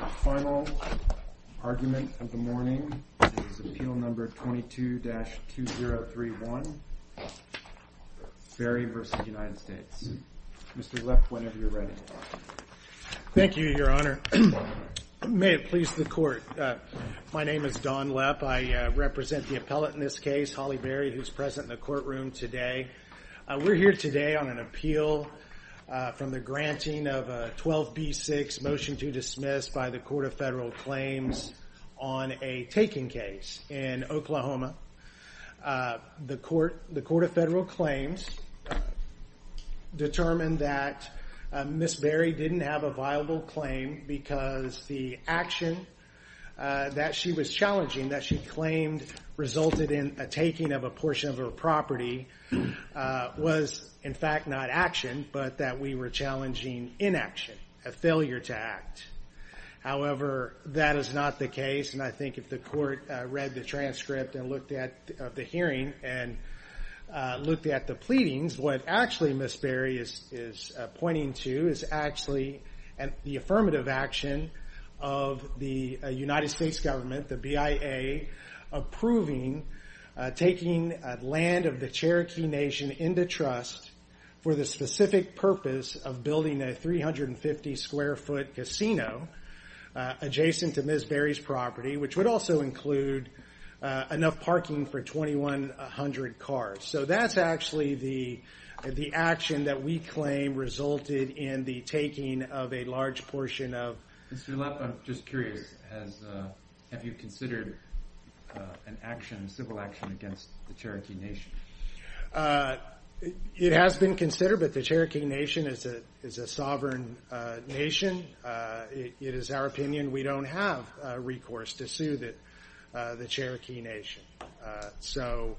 Final argument of the morning is Appeal No. 22-2031, Berry v. United States. Mr. Lepp, whenever you're ready. Thank you, Your Honor. May it please the Court. My name is Don Lepp. I represent the appellate in this case, Holly Berry, who is present in the courtroom today. We're here today on an appeal from the granting of a 12b6 motion to dismiss by the Court of Federal Claims on a taking case in Oklahoma. The Court of Federal Claims determined that Ms. Berry didn't have a viable claim because the action that she was challenging, that she claimed resulted in a taking of a portion of her property, was in fact not action, but that we were challenging inaction, a failure to act. However, that is not the case, and I think if the Court read the transcript of the hearing and looked at the pleadings, what actually Ms. Berry is pointing to is the affirmative action of the United States government, the BIA, approving taking land of the Cherokee Nation into trust for the specific purpose of building a 350 square foot casino adjacent to Ms. Berry's property, which would also include enough parking for 2,100 cars. So that's actually the action that we claim resulted in the taking of a large portion of... Mr. Leff, I'm just curious, have you considered an action, a civil action against the Cherokee Nation? It has been considered, but the Cherokee Nation is a sovereign nation. It is our opinion we don't have recourse to sue the Cherokee Nation. So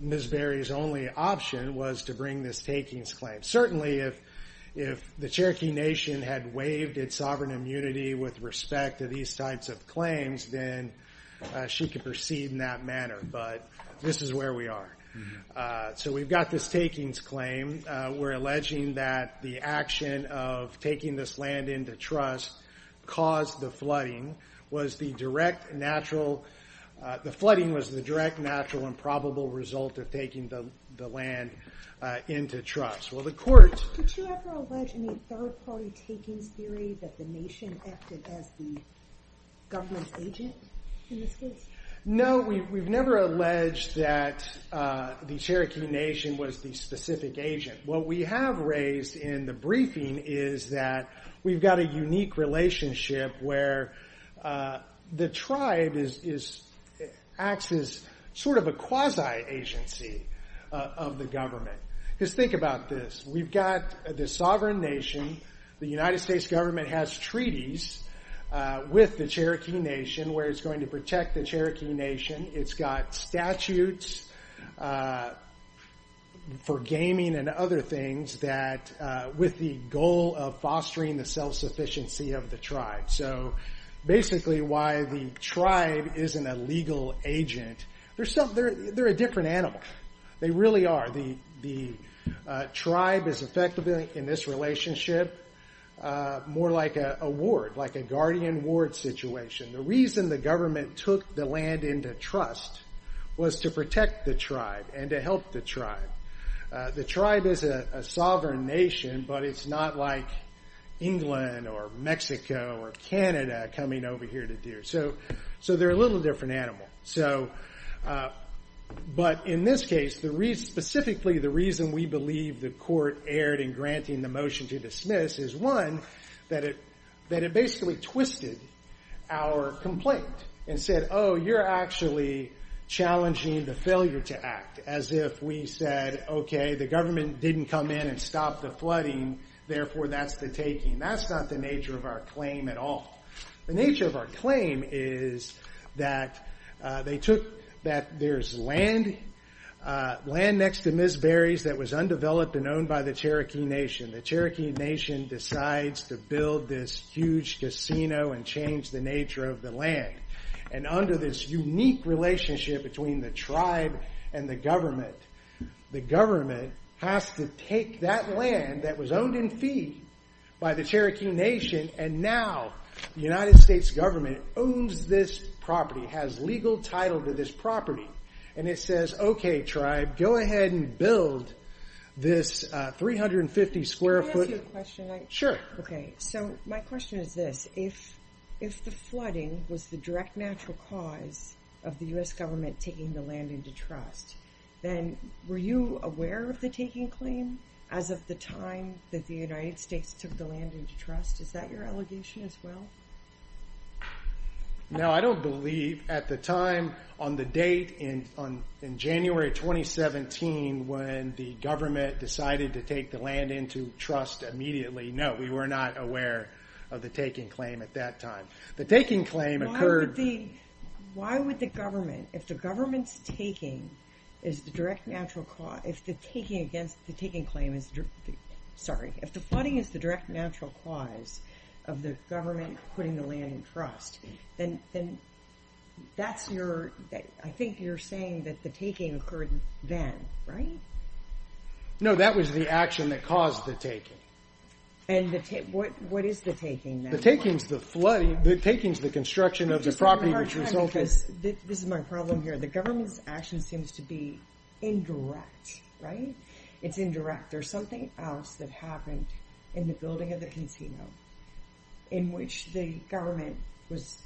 Ms. Berry's only option was to bring this takings claim. Certainly, if the Cherokee Nation had waived its sovereign immunity with respect to these types of claims, then she could proceed in that manner, but this is where we are. So we've got this takings claim. We're alleging that the action of taking this land into trust caused the flooding, the flooding was the direct, natural, and probable result of taking the land into trust. Well, the court... Did you ever allege in the third-party takings theory that the nation acted as the government agent in this case? No, we've never alleged that the Cherokee Nation was the specific agent. What we have raised in the briefing is that we've got a unique relationship where the tribe acts as sort of a quasi-agency of the government. Because think about this. We've got this sovereign nation. The United States government has treaties with the Cherokee Nation where it's going to protect the Cherokee Nation. It's got statutes for gaming and other things with the goal of fostering the self-sufficiency of the tribe. So basically, why the tribe isn't a legal agent, they're a different animal. They really are. The tribe is effectively, in this relationship, more like a ward, like a guardian ward situation. The reason the government took the land into trust was to protect the tribe and to help the tribe. The tribe is a sovereign nation, but it's not like England or Mexico or Canada coming over here to deer. So they're a little different animal. But in this case, specifically, the reason we believe the court erred in granting the motion to dismiss is, one, that it basically twisted our complaint and said, oh, you're actually challenging the failure to act, as if we said, OK, the government didn't come in and stop the flooding. Therefore, that's the taking. That's not the nature of our claim at all. The nature of our claim is that there's land next to Ms. Berry's that was undeveloped and owned by the Cherokee Nation. The Cherokee Nation decides to build this huge casino and change the nature of the land. And under this unique relationship between the tribe and the government, the government has to take that land that was owned in fee by the Cherokee Nation, and now the United States government owns this property, has legal title to this property. And it says, OK, tribe, go ahead and build this 350-square-foot... Can I ask you a question? Sure. OK, so my question is this. If the flooding was the direct natural cause of the U.S. government taking the land into trust, then were you aware of the taking claim as of the time that the United States took the land into trust? Is that your allegation as well? No, I don't believe at the time on the date in January 2017 when the government decided to take the land into trust immediately. No, we were not aware of the taking claim at that time. The taking claim occurred... ...of the government putting the land in trust. Then that's your...I think you're saying that the taking occurred then, right? No, that was the action that caused the taking. And what is the taking then? The taking is the construction of the property which resulted... This is my problem here. The government's action seems to be indirect, right? It's indirect. There's something else that happened in the building of the casino in which the tribe was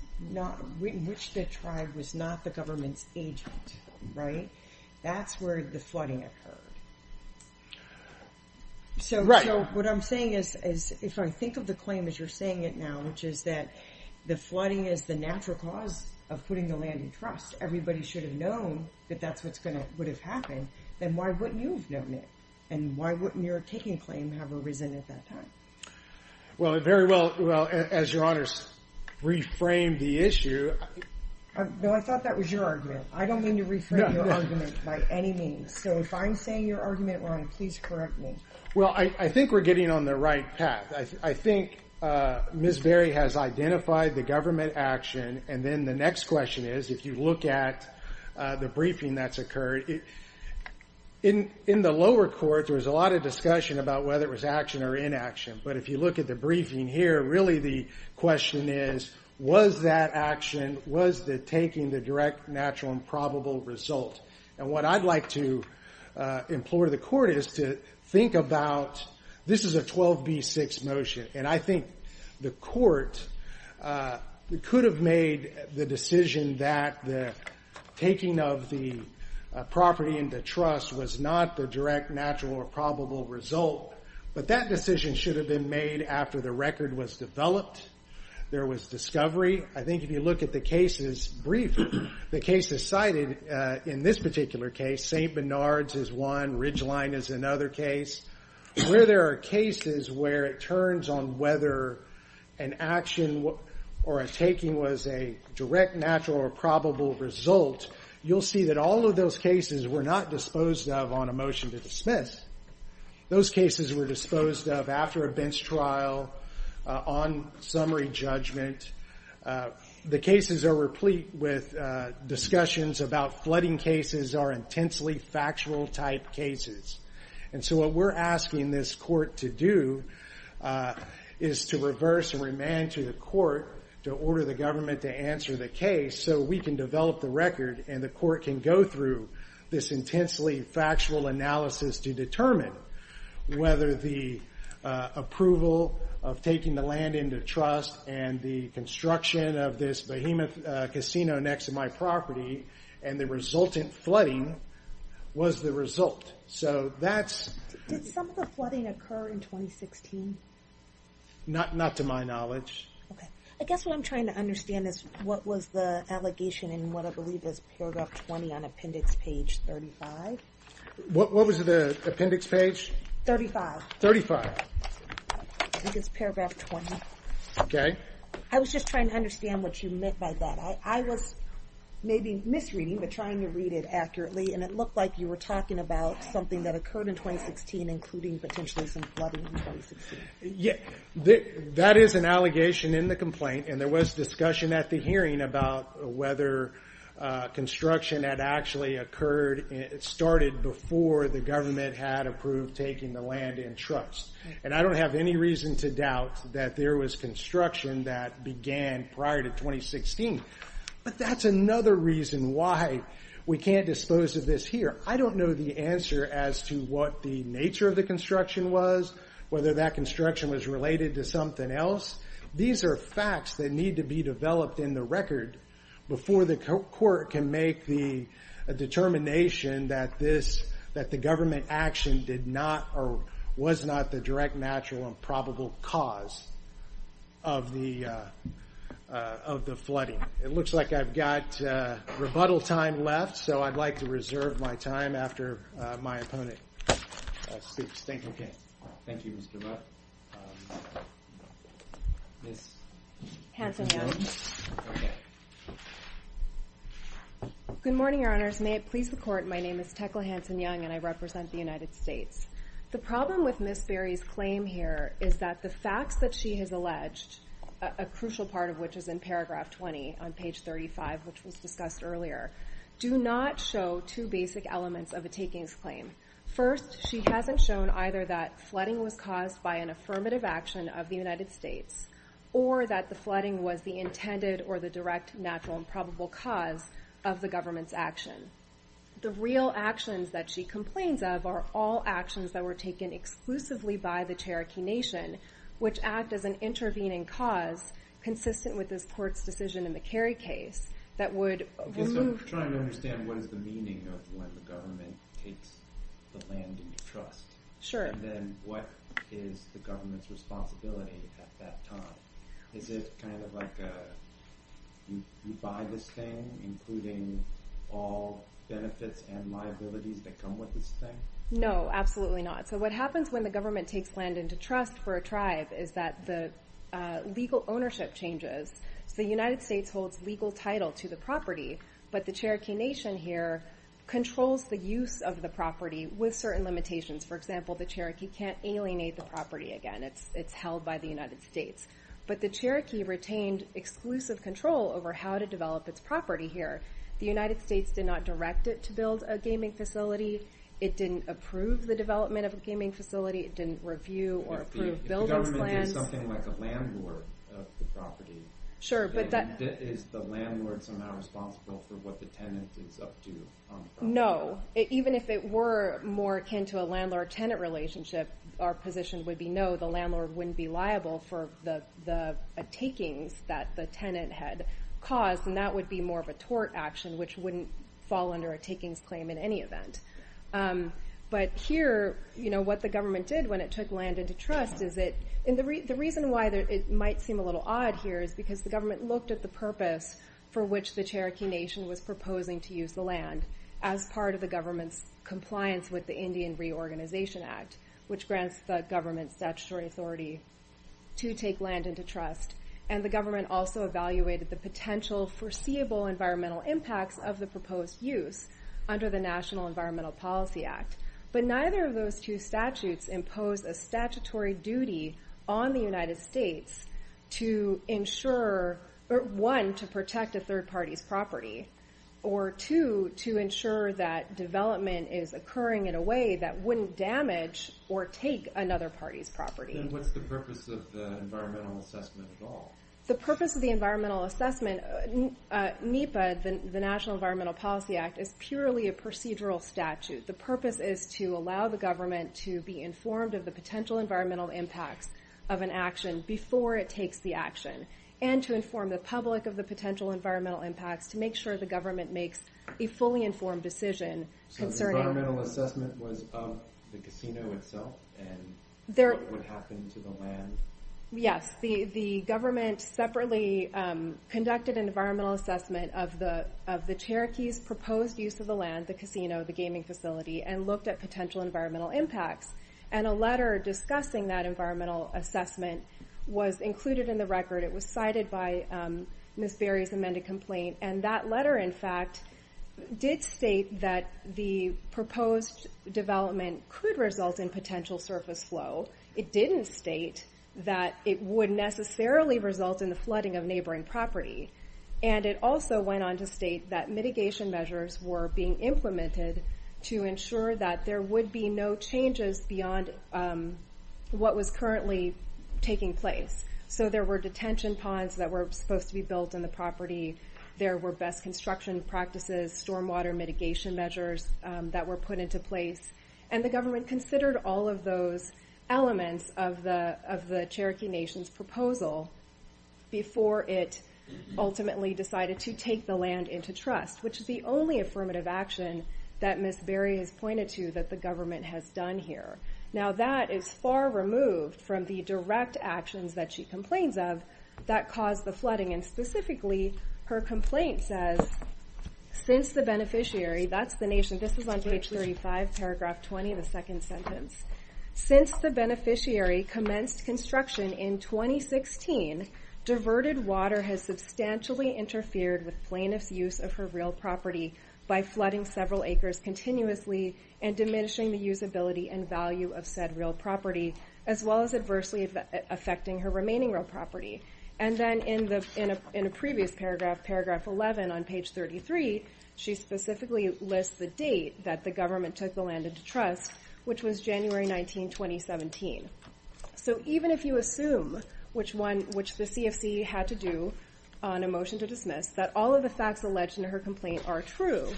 not the government's agent, right? That's where the flooding occurred. Right. So what I'm saying is, if I think of the claim as you're saying it now, which is that the flooding is the natural cause of putting the land in trust. Everybody should have known that that's what would have happened. Then why wouldn't you have known it? And why wouldn't your taking claim have arisen at that time? Well, it very well, as your Honor, reframed the issue. No, I thought that was your argument. I don't mean to reframe your argument by any means. So if I'm saying your argument wrong, please correct me. Well, I think we're getting on the right path. I think Ms. Berry has identified the government action. And then the next question is, if you look at the briefing that's occurred, in the lower court, there was a lot of discussion about whether it was action or inaction. But if you look at the briefing here, really the question is, was that action, was the taking the direct, natural, and probable result? And what I'd like to implore the court is to think about, this is a 12B6 motion. And I think the court could have made the decision that the taking of the property into trust was not the direct, natural, or probable result. But that decision should have been made after the record was developed, there was discovery. I think if you look at the cases briefed, the cases cited in this particular case, St. Bernard's is one, Ridgeline is another case. Where there are cases where it turns on whether an action or a taking was a direct, natural, or probable result, you'll see that all of those cases were not disposed of on a motion to dismiss. Those cases were disposed of after a bench trial, on summary judgment. The cases are replete with discussions about flooding cases are intensely factual type cases. And so what we're asking this court to do is to reverse and remand to the court to order the government to answer the case so we can develop the record and the court can go through this intensely factual analysis to determine whether the approval of taking the land into trust and the construction of this behemoth casino next to my property and the resultant flooding was the result. Did some of the flooding occur in 2016? Not to my knowledge. I guess what I'm trying to understand is what was the allegation in what I believe is paragraph 20 on appendix page 35? What was the appendix page? 35. 35. I think it's paragraph 20. Okay. I was just trying to understand what you meant by that. I was maybe misreading but trying to read it accurately and it looked like you were talking about something that occurred in 2016 including potentially some flooding in 2016. That is an allegation in the complaint and there was discussion at the hearing about whether construction had actually occurred and started before the government had approved taking the land in trust. And I don't have any reason to doubt that there was construction that began prior to 2016. But that's another reason why we can't dispose of this here. I don't know the answer as to what the nature of the construction was, whether that construction was related to something else. These are facts that need to be developed in the record before the court can make the determination that the government action was not the direct, natural, and probable cause of the flooding. It looks like I've got rebuttal time left so I'd like to reserve my time after my opponent speaks. Thank you. Okay. Thank you, Mr. Buck. Ms. Hanson-Young. Okay. Good morning, Your Honors. May it please the court, my name is Tekla Hanson-Young and I represent the United States. The problem with Ms. Berry's claim here is that the facts that she has alleged, a crucial part of which is in paragraph 20 on page 35, which was discussed earlier, do not show two basic elements of a takings claim. First, she hasn't shown either that flooding was caused by an affirmative action of the United States or that the flooding was the intended or the direct, natural, and probable cause of the government's action. The real actions that she complains of are all actions that were taken exclusively by the Cherokee Nation, which act as an intervening cause consistent with this court's decision in the Kerry case that would remove... Okay, so I'm trying to understand what is the meaning of when the government takes the land in your trust. Sure. And then what is the government's responsibility at that time? Is it kind of like you buy this thing, including all benefits and liabilities that come with this thing? No, absolutely not. So what happens when the government takes land into trust for a tribe is that the legal ownership changes. So the United States holds legal title to the property, but the Cherokee Nation here controls the use of the property with certain limitations. For example, the Cherokee can't alienate the property again. It's held by the United States. But the Cherokee retained exclusive control over how to develop its property here. The United States did not direct it to build a gaming facility. It didn't approve the development of a gaming facility. It didn't review or approve building plans. If the government did something like a landlord of the property, is the landlord somehow responsible for what the tenant is up to on the property? No. Even if it were more akin to a landlord-tenant relationship, our position would be no. The landlord wouldn't be liable for the takings that the tenant had caused, and that would be more of a tort action, which wouldn't fall under a takings claim in any event. But here, what the government did when it took land into trust is that... The reason why it might seem a little odd here is because the government looked at the purpose for which the Cherokee Nation was proposing to use the land as part of the government's compliance with the Indian Reorganization Act, which grants the government statutory authority to take land into trust. And the government also evaluated the potential foreseeable environmental impacts of the proposed use under the National Environmental Policy Act. But neither of those two statutes impose a statutory duty on the United States to ensure, one, to protect a third party's property, or two, to ensure that development is occurring in a way that wouldn't damage or take another party's property. Then what's the purpose of the environmental assessment at all? The purpose of the environmental assessment, NEPA, the National Environmental Policy Act, is purely a procedural statute. The purpose is to allow the government to be informed of the potential environmental impacts of an action before it takes the action, and to inform the public of the potential environmental impacts to make sure the government makes a fully informed decision concerning... The environmental assessment was of the casino itself, and what would happen to the land? Yes. The government separately conducted an environmental assessment of the Cherokees' proposed use of the land, the casino, the gaming facility, and looked at potential environmental impacts. And a letter discussing that environmental assessment was included in the record. It was cited by Ms. Berry's amended complaint, and that letter, in fact, did state that the proposed development could result in potential surface flow. It didn't state that it would necessarily result in the flooding of neighboring property. And it also went on to state that mitigation measures were being implemented to ensure that there would be no changes beyond what was currently taking place. So there were detention ponds that were supposed to be built in the property, there were best construction practices, stormwater mitigation measures that were put into place, and the government considered all of those elements of the Cherokee Nation's proposal before it ultimately decided to take the land into trust, which is the only affirmative action that Ms. Berry has pointed to that the government has done here. Now, that is far removed from the direct actions that she complains of that caused the flooding. And specifically, her complaint says, since the beneficiary, that's the nation, this is on page 35, paragraph 20, the second sentence, since the beneficiary commenced construction in 2016, diverted water has substantially interfered with plaintiff's use of her real property by flooding several acres continuously and diminishing the usability and value of said real property, as well as adversely affecting her remaining real property. And then in a previous paragraph, paragraph 11 on page 33, she specifically lists the date that the government took the land into trust, which was January 19, 2017. So even if you assume, which the CFC had to do on a motion to dismiss, that all of the facts alleged in her complaint are true,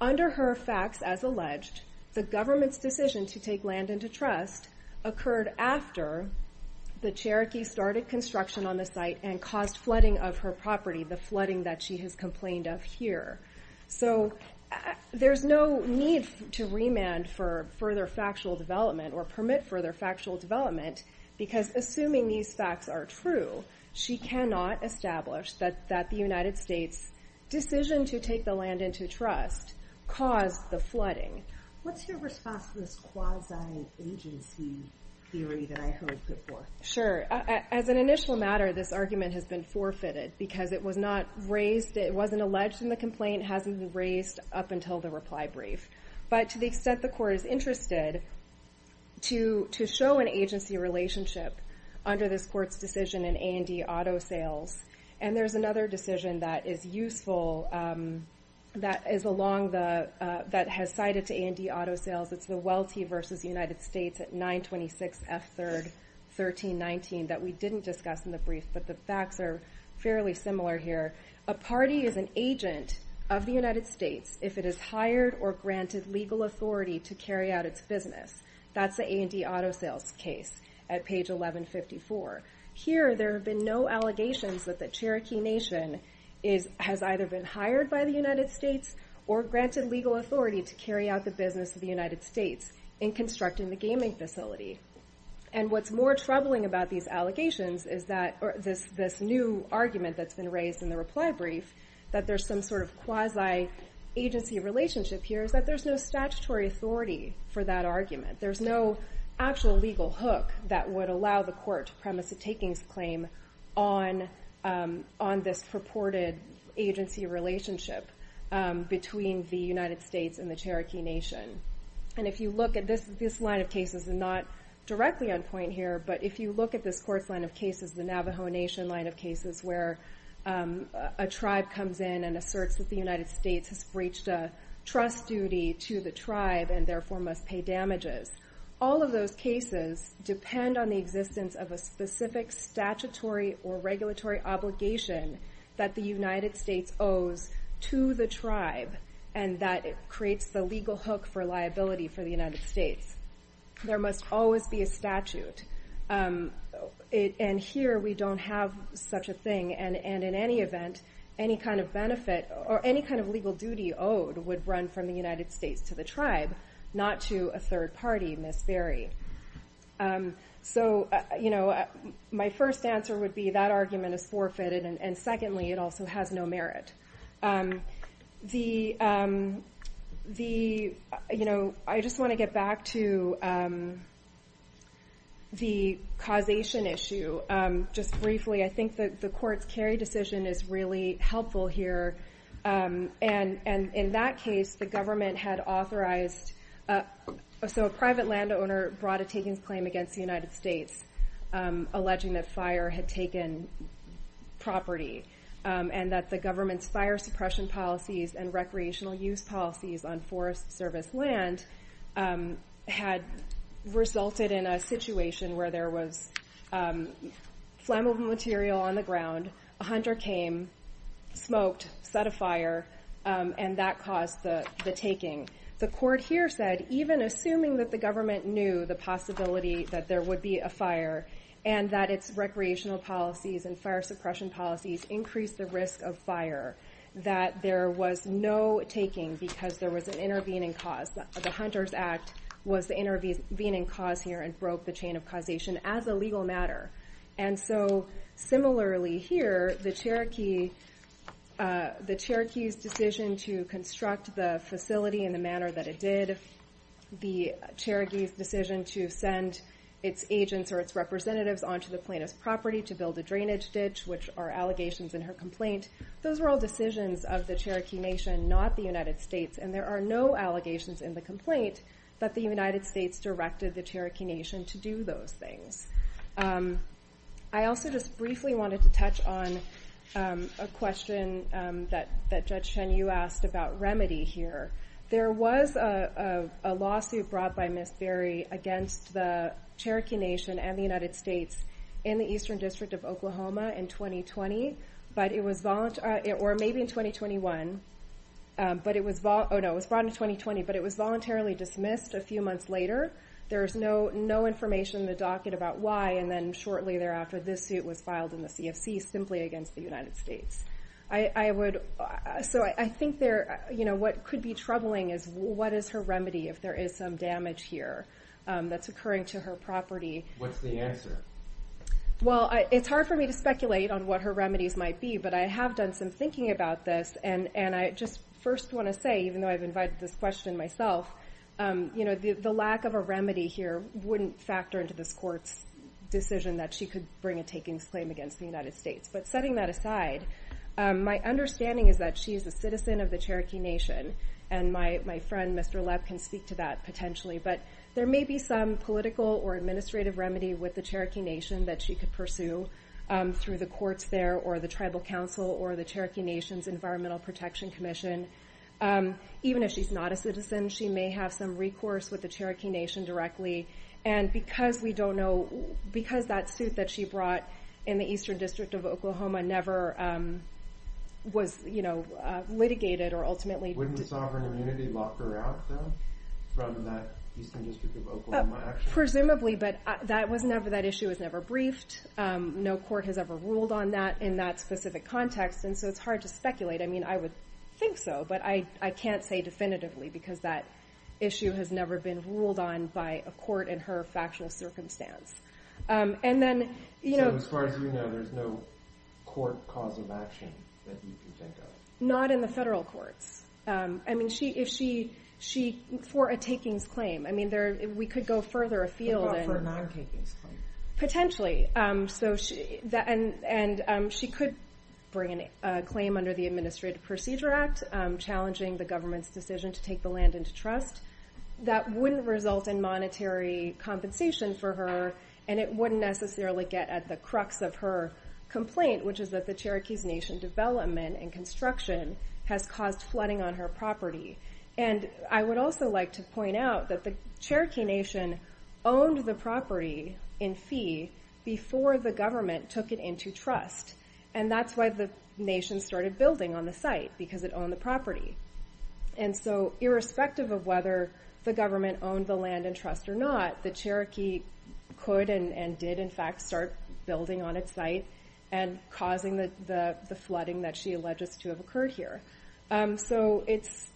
under her facts as alleged, the government's decision to take land into trust occurred after the Cherokee started construction on the site and caused flooding of her property, the flooding that she has complained of here. So there's no need to remand for further factual development or permit further factual development, because assuming these facts are true, she cannot establish that the United States' decision to take the land into trust caused the flooding. What's your response to this quasi-agency theory that I heard before? Sure. As an initial matter, this argument has been forfeited because it was not raised, it wasn't alleged in the complaint, it hasn't been raised up until the reply brief. But to the extent the court is interested to show an agency relationship under this court's decision in A&D Auto Sales, and there's another decision that is useful, that is along the, that has cited to A&D Auto Sales, it's the Welty v. United States at 926 F. 3rd, 1319, that we didn't discuss in the brief, but the facts are fairly similar here. A party is an agent of the United States if it is hired or granted legal authority to carry out its business. That's the A&D Auto Sales case at page 1154. Here, there have been no allegations that the Cherokee Nation has either been hired by the United States or granted legal authority to carry out the business of the United States in constructing the gaming facility. And what's more troubling about these allegations is that, or this new argument that's been raised in the reply brief, that there's some sort of quasi-agency relationship here is that there's no statutory authority for that argument. There's no actual legal hook that would allow the court to premise a takings claim on this purported agency relationship. between the United States and the Cherokee Nation. And if you look at this line of cases, and not directly on point here, but if you look at this court's line of cases, the Navajo Nation line of cases where a tribe comes in and asserts that the United States has breached a trust duty to the tribe and therefore must pay damages. All of those cases depend on the existence of a specific statutory or regulatory obligation that the United States owes to the tribe and that creates the legal hook for liability for the United States. There must always be a statute. And here, we don't have such a thing. And in any event, any kind of benefit or any kind of legal duty owed would run from the United States to the tribe, not to a third party, Miss Barry. So my first answer would be that argument is forfeited, and secondly, it also has no merit. I just want to get back to the causation issue. Just briefly, I think that the court's Kerry decision is really helpful here. And in that case, the government had authorized, so a private landowner brought a takings claim against the United States, alleging that fire had taken property and that the government's fire suppression policies and recreational use policies on forest service land had resulted in a situation where there was flammable material on the ground, a hunter came, smoked, set a fire, and that caused the taking. The court here said, even assuming that the government knew the possibility that there would be a fire and that its recreational policies and fire suppression policies increased the risk of fire, that there was no taking because there was an intervening cause. The Hunter's Act was the intervening cause here and broke the chain of causation as a legal matter. And so similarly here, the Cherokee's decision to construct the facility in the manner that it did, the Cherokee's decision to send its agents or its representatives onto the plaintiff's property to build a drainage ditch, which are allegations in her complaint, those were all decisions of the Cherokee Nation, not the United States, and there are no allegations in the complaint that the United States directed the Cherokee Nation to do those things. I also just briefly wanted to touch on a question that Judge Chen-Yu asked about remedy here. There was a lawsuit brought by Ms. Berry against the Cherokee Nation and the United States in the Eastern District of Oklahoma in 2020, or maybe in 2021, but it was brought in 2020, but it was voluntarily dismissed a few months later. There is no information in the docket about why. And then shortly thereafter, this suit was filed in the CFC simply against the United States. So I think what could be troubling is what is her remedy if there is some damage here that's occurring to her property? What's the answer? Well, it's hard for me to speculate on what her remedies might be, but I have done some thinking about this. And I just first want to say, even though I've invited this question myself, you know, the lack of a remedy here wouldn't factor into this court's decision that she could bring a takings claim against the United States. But setting that aside, my understanding is that she is a citizen of the Cherokee Nation. And my friend, Mr. Lepp, can speak to that potentially. But there may be some political or administrative remedy with the Cherokee Nation that she could pursue through the courts there or the Tribal Council or the Cherokee Nation's Environmental Protection Commission. Even if she's not a citizen, she may have some recourse with the Cherokee Nation directly. And because we don't know, because that suit that she brought in the Eastern District of Oklahoma never was, you know, litigated or ultimately dismissed. Wouldn't the sovereign immunity lock her out, though, from that Eastern District of Oklahoma action? Presumably, but that issue was never briefed. No court has ever ruled on that in that specific context. And so it's hard to speculate. I mean, I would think so, but I can't say definitively because that issue has never been ruled on by a court in her factual circumstance. So as far as we know, there's no court cause of action that you can think of? Not in the federal courts. I mean, if she, for a takings claim, I mean, we could go further afield. What about for a non-takings claim? Potentially. And she could bring a claim under the Administrative Procedure Act challenging the government's decision to take the land into trust. That wouldn't result in monetary compensation for her, and it wouldn't necessarily get at the crux of her complaint, which is that the Cherokees Nation development and construction has caused flooding on her property. And I would also like to point out that the Cherokee Nation owned the property in fee before the government took it into trust. And that's why the nation started building on the site, because it owned the property. And so irrespective of whether the government owned the land in trust or not, the Cherokee could and did in fact start building on its site and causing the flooding that she alleges to have occurred here. So it's,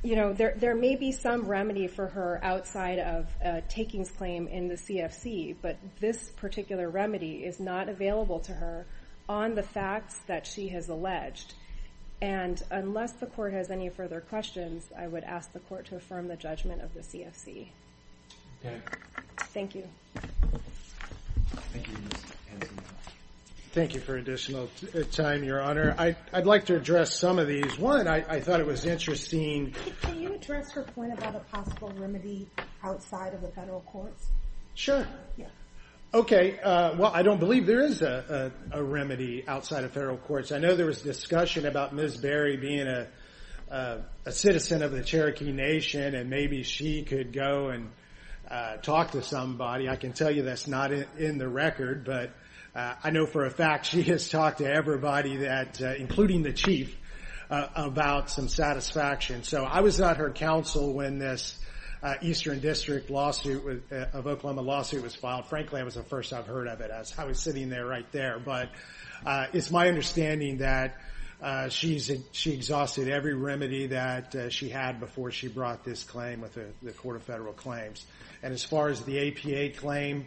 you know, there may be some remedy for her outside of a takings claim in the CFC, but this particular remedy is not available to her on the facts that she has alleged. And unless the court has any further questions, I would ask the court to affirm the judgment of the CFC. Thank you. Thank you for additional time, Your Honor. I'd like to address some of these. One, I thought it was interesting. Can you address her point about a possible remedy outside of the federal courts? Sure. OK. Well, I don't believe there is a remedy outside of federal courts. I know there was discussion about Ms. Berry being a citizen of the Cherokee Nation, and maybe she could go and talk to somebody. I can tell you that's not in the record. But I know for a fact she has talked to everybody, including the chief, about some satisfaction. So I was at her council when this Eastern District lawsuit of Oklahoma lawsuit was filed. Frankly, it was the first I've heard of it. I was sitting there right there. But it's my understanding that she exhausted every remedy that she had before she brought this claim with the Court of Federal Claims. And as far as the APA claim,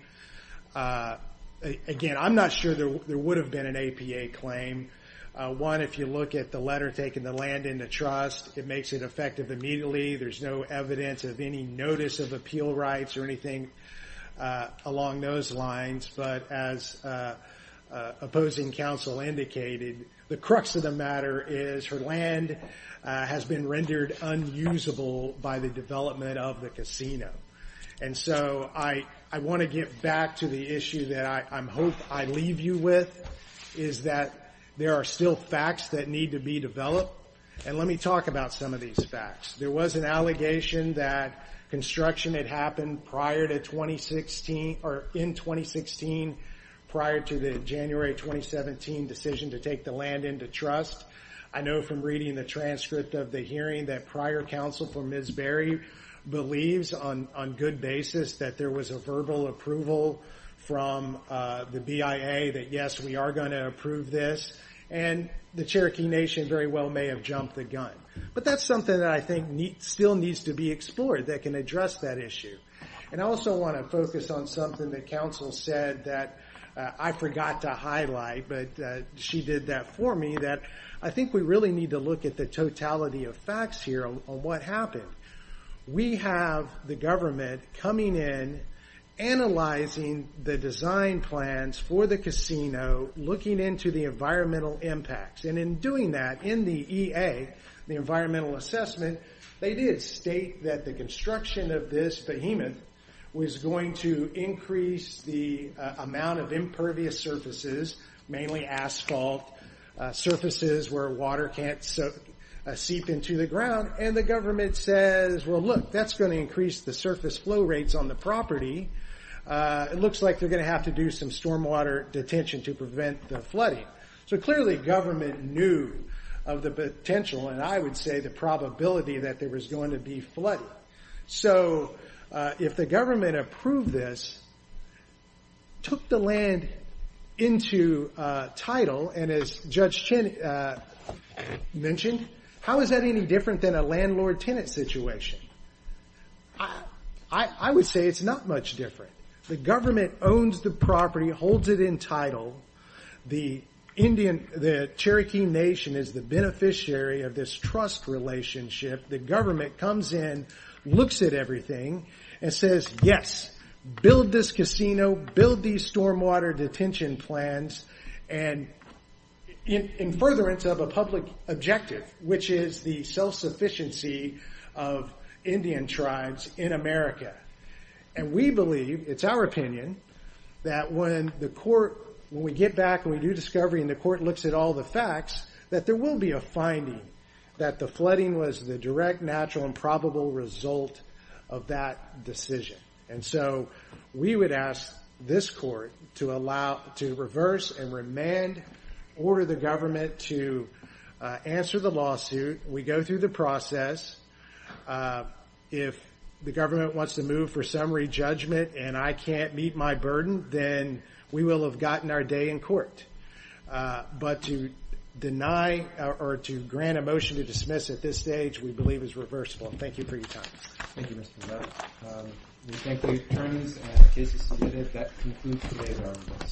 again, I'm not sure there would have been an APA claim. One, if you look at the letter taking the land into trust, it makes it effective immediately. There's no evidence of any notice of appeal rights or anything along those lines. But as opposing counsel indicated, the crux of the matter is her land has been rendered unusable by the development of the casino. And so I want to get back to the issue that I hope I leave you with, is that there are still facts that need to be developed. And let me talk about some of these facts. There was an allegation that construction had happened in 2016 prior to the January 2017 decision to take the land into trust. I know from reading the transcript of the hearing that prior counsel for Ms. Berry believes on good basis that there was a verbal approval from the BIA that, yes, we are going to approve this. And the Cherokee Nation very well may have jumped the gun. But that's something that I think still needs to be explored that can address that issue. And I also want to focus on something that counsel said that I forgot to highlight, but she did that for me, that I think we really need to look at the totality of facts here on what happened. We have the government coming in, analyzing the design plans for the casino, looking into the environmental impacts. And in doing that, in the EA, the environmental assessment, they did state that the construction of this behemoth was going to increase the amount of impervious surfaces, mainly asphalt, surfaces where water can't seep into the ground. And the government says, well, look, that's going to increase the surface flow rates on the property. It looks like they're going to have to do some stormwater detention to prevent the flooding. So clearly, government knew of the potential, and I would say the probability, that there was going to be flooding. So if the government approved this, took the land into title, and as Judge Chin mentioned, how is that any different than a landlord-tenant situation? I would say it's not much different. The government owns the property, holds it in title. The Cherokee Nation is the beneficiary of this trust relationship. The government comes in, looks at everything, and says, yes, build this casino, build these stormwater detention plans. And in furtherance of a public objective, which is the self-sufficiency of Indian tribes in America. And we believe, it's our opinion, that when the court, when we get back and we do discovery and the court looks at all the facts, that there will be a finding that the flooding was the direct, natural, and probable result of that decision. And so we would ask this court to reverse and remand, order the government to answer the lawsuit. We go through the process. If the government wants to move for summary judgment and I can't meet my burden, then we will have gotten our day in court. But to deny, or to grant a motion to dismiss at this stage, we believe is reversible. Thank you for your time. Thank you, Mr. Miller. We thank the attorneys and the cases submitted. That concludes today's arguments.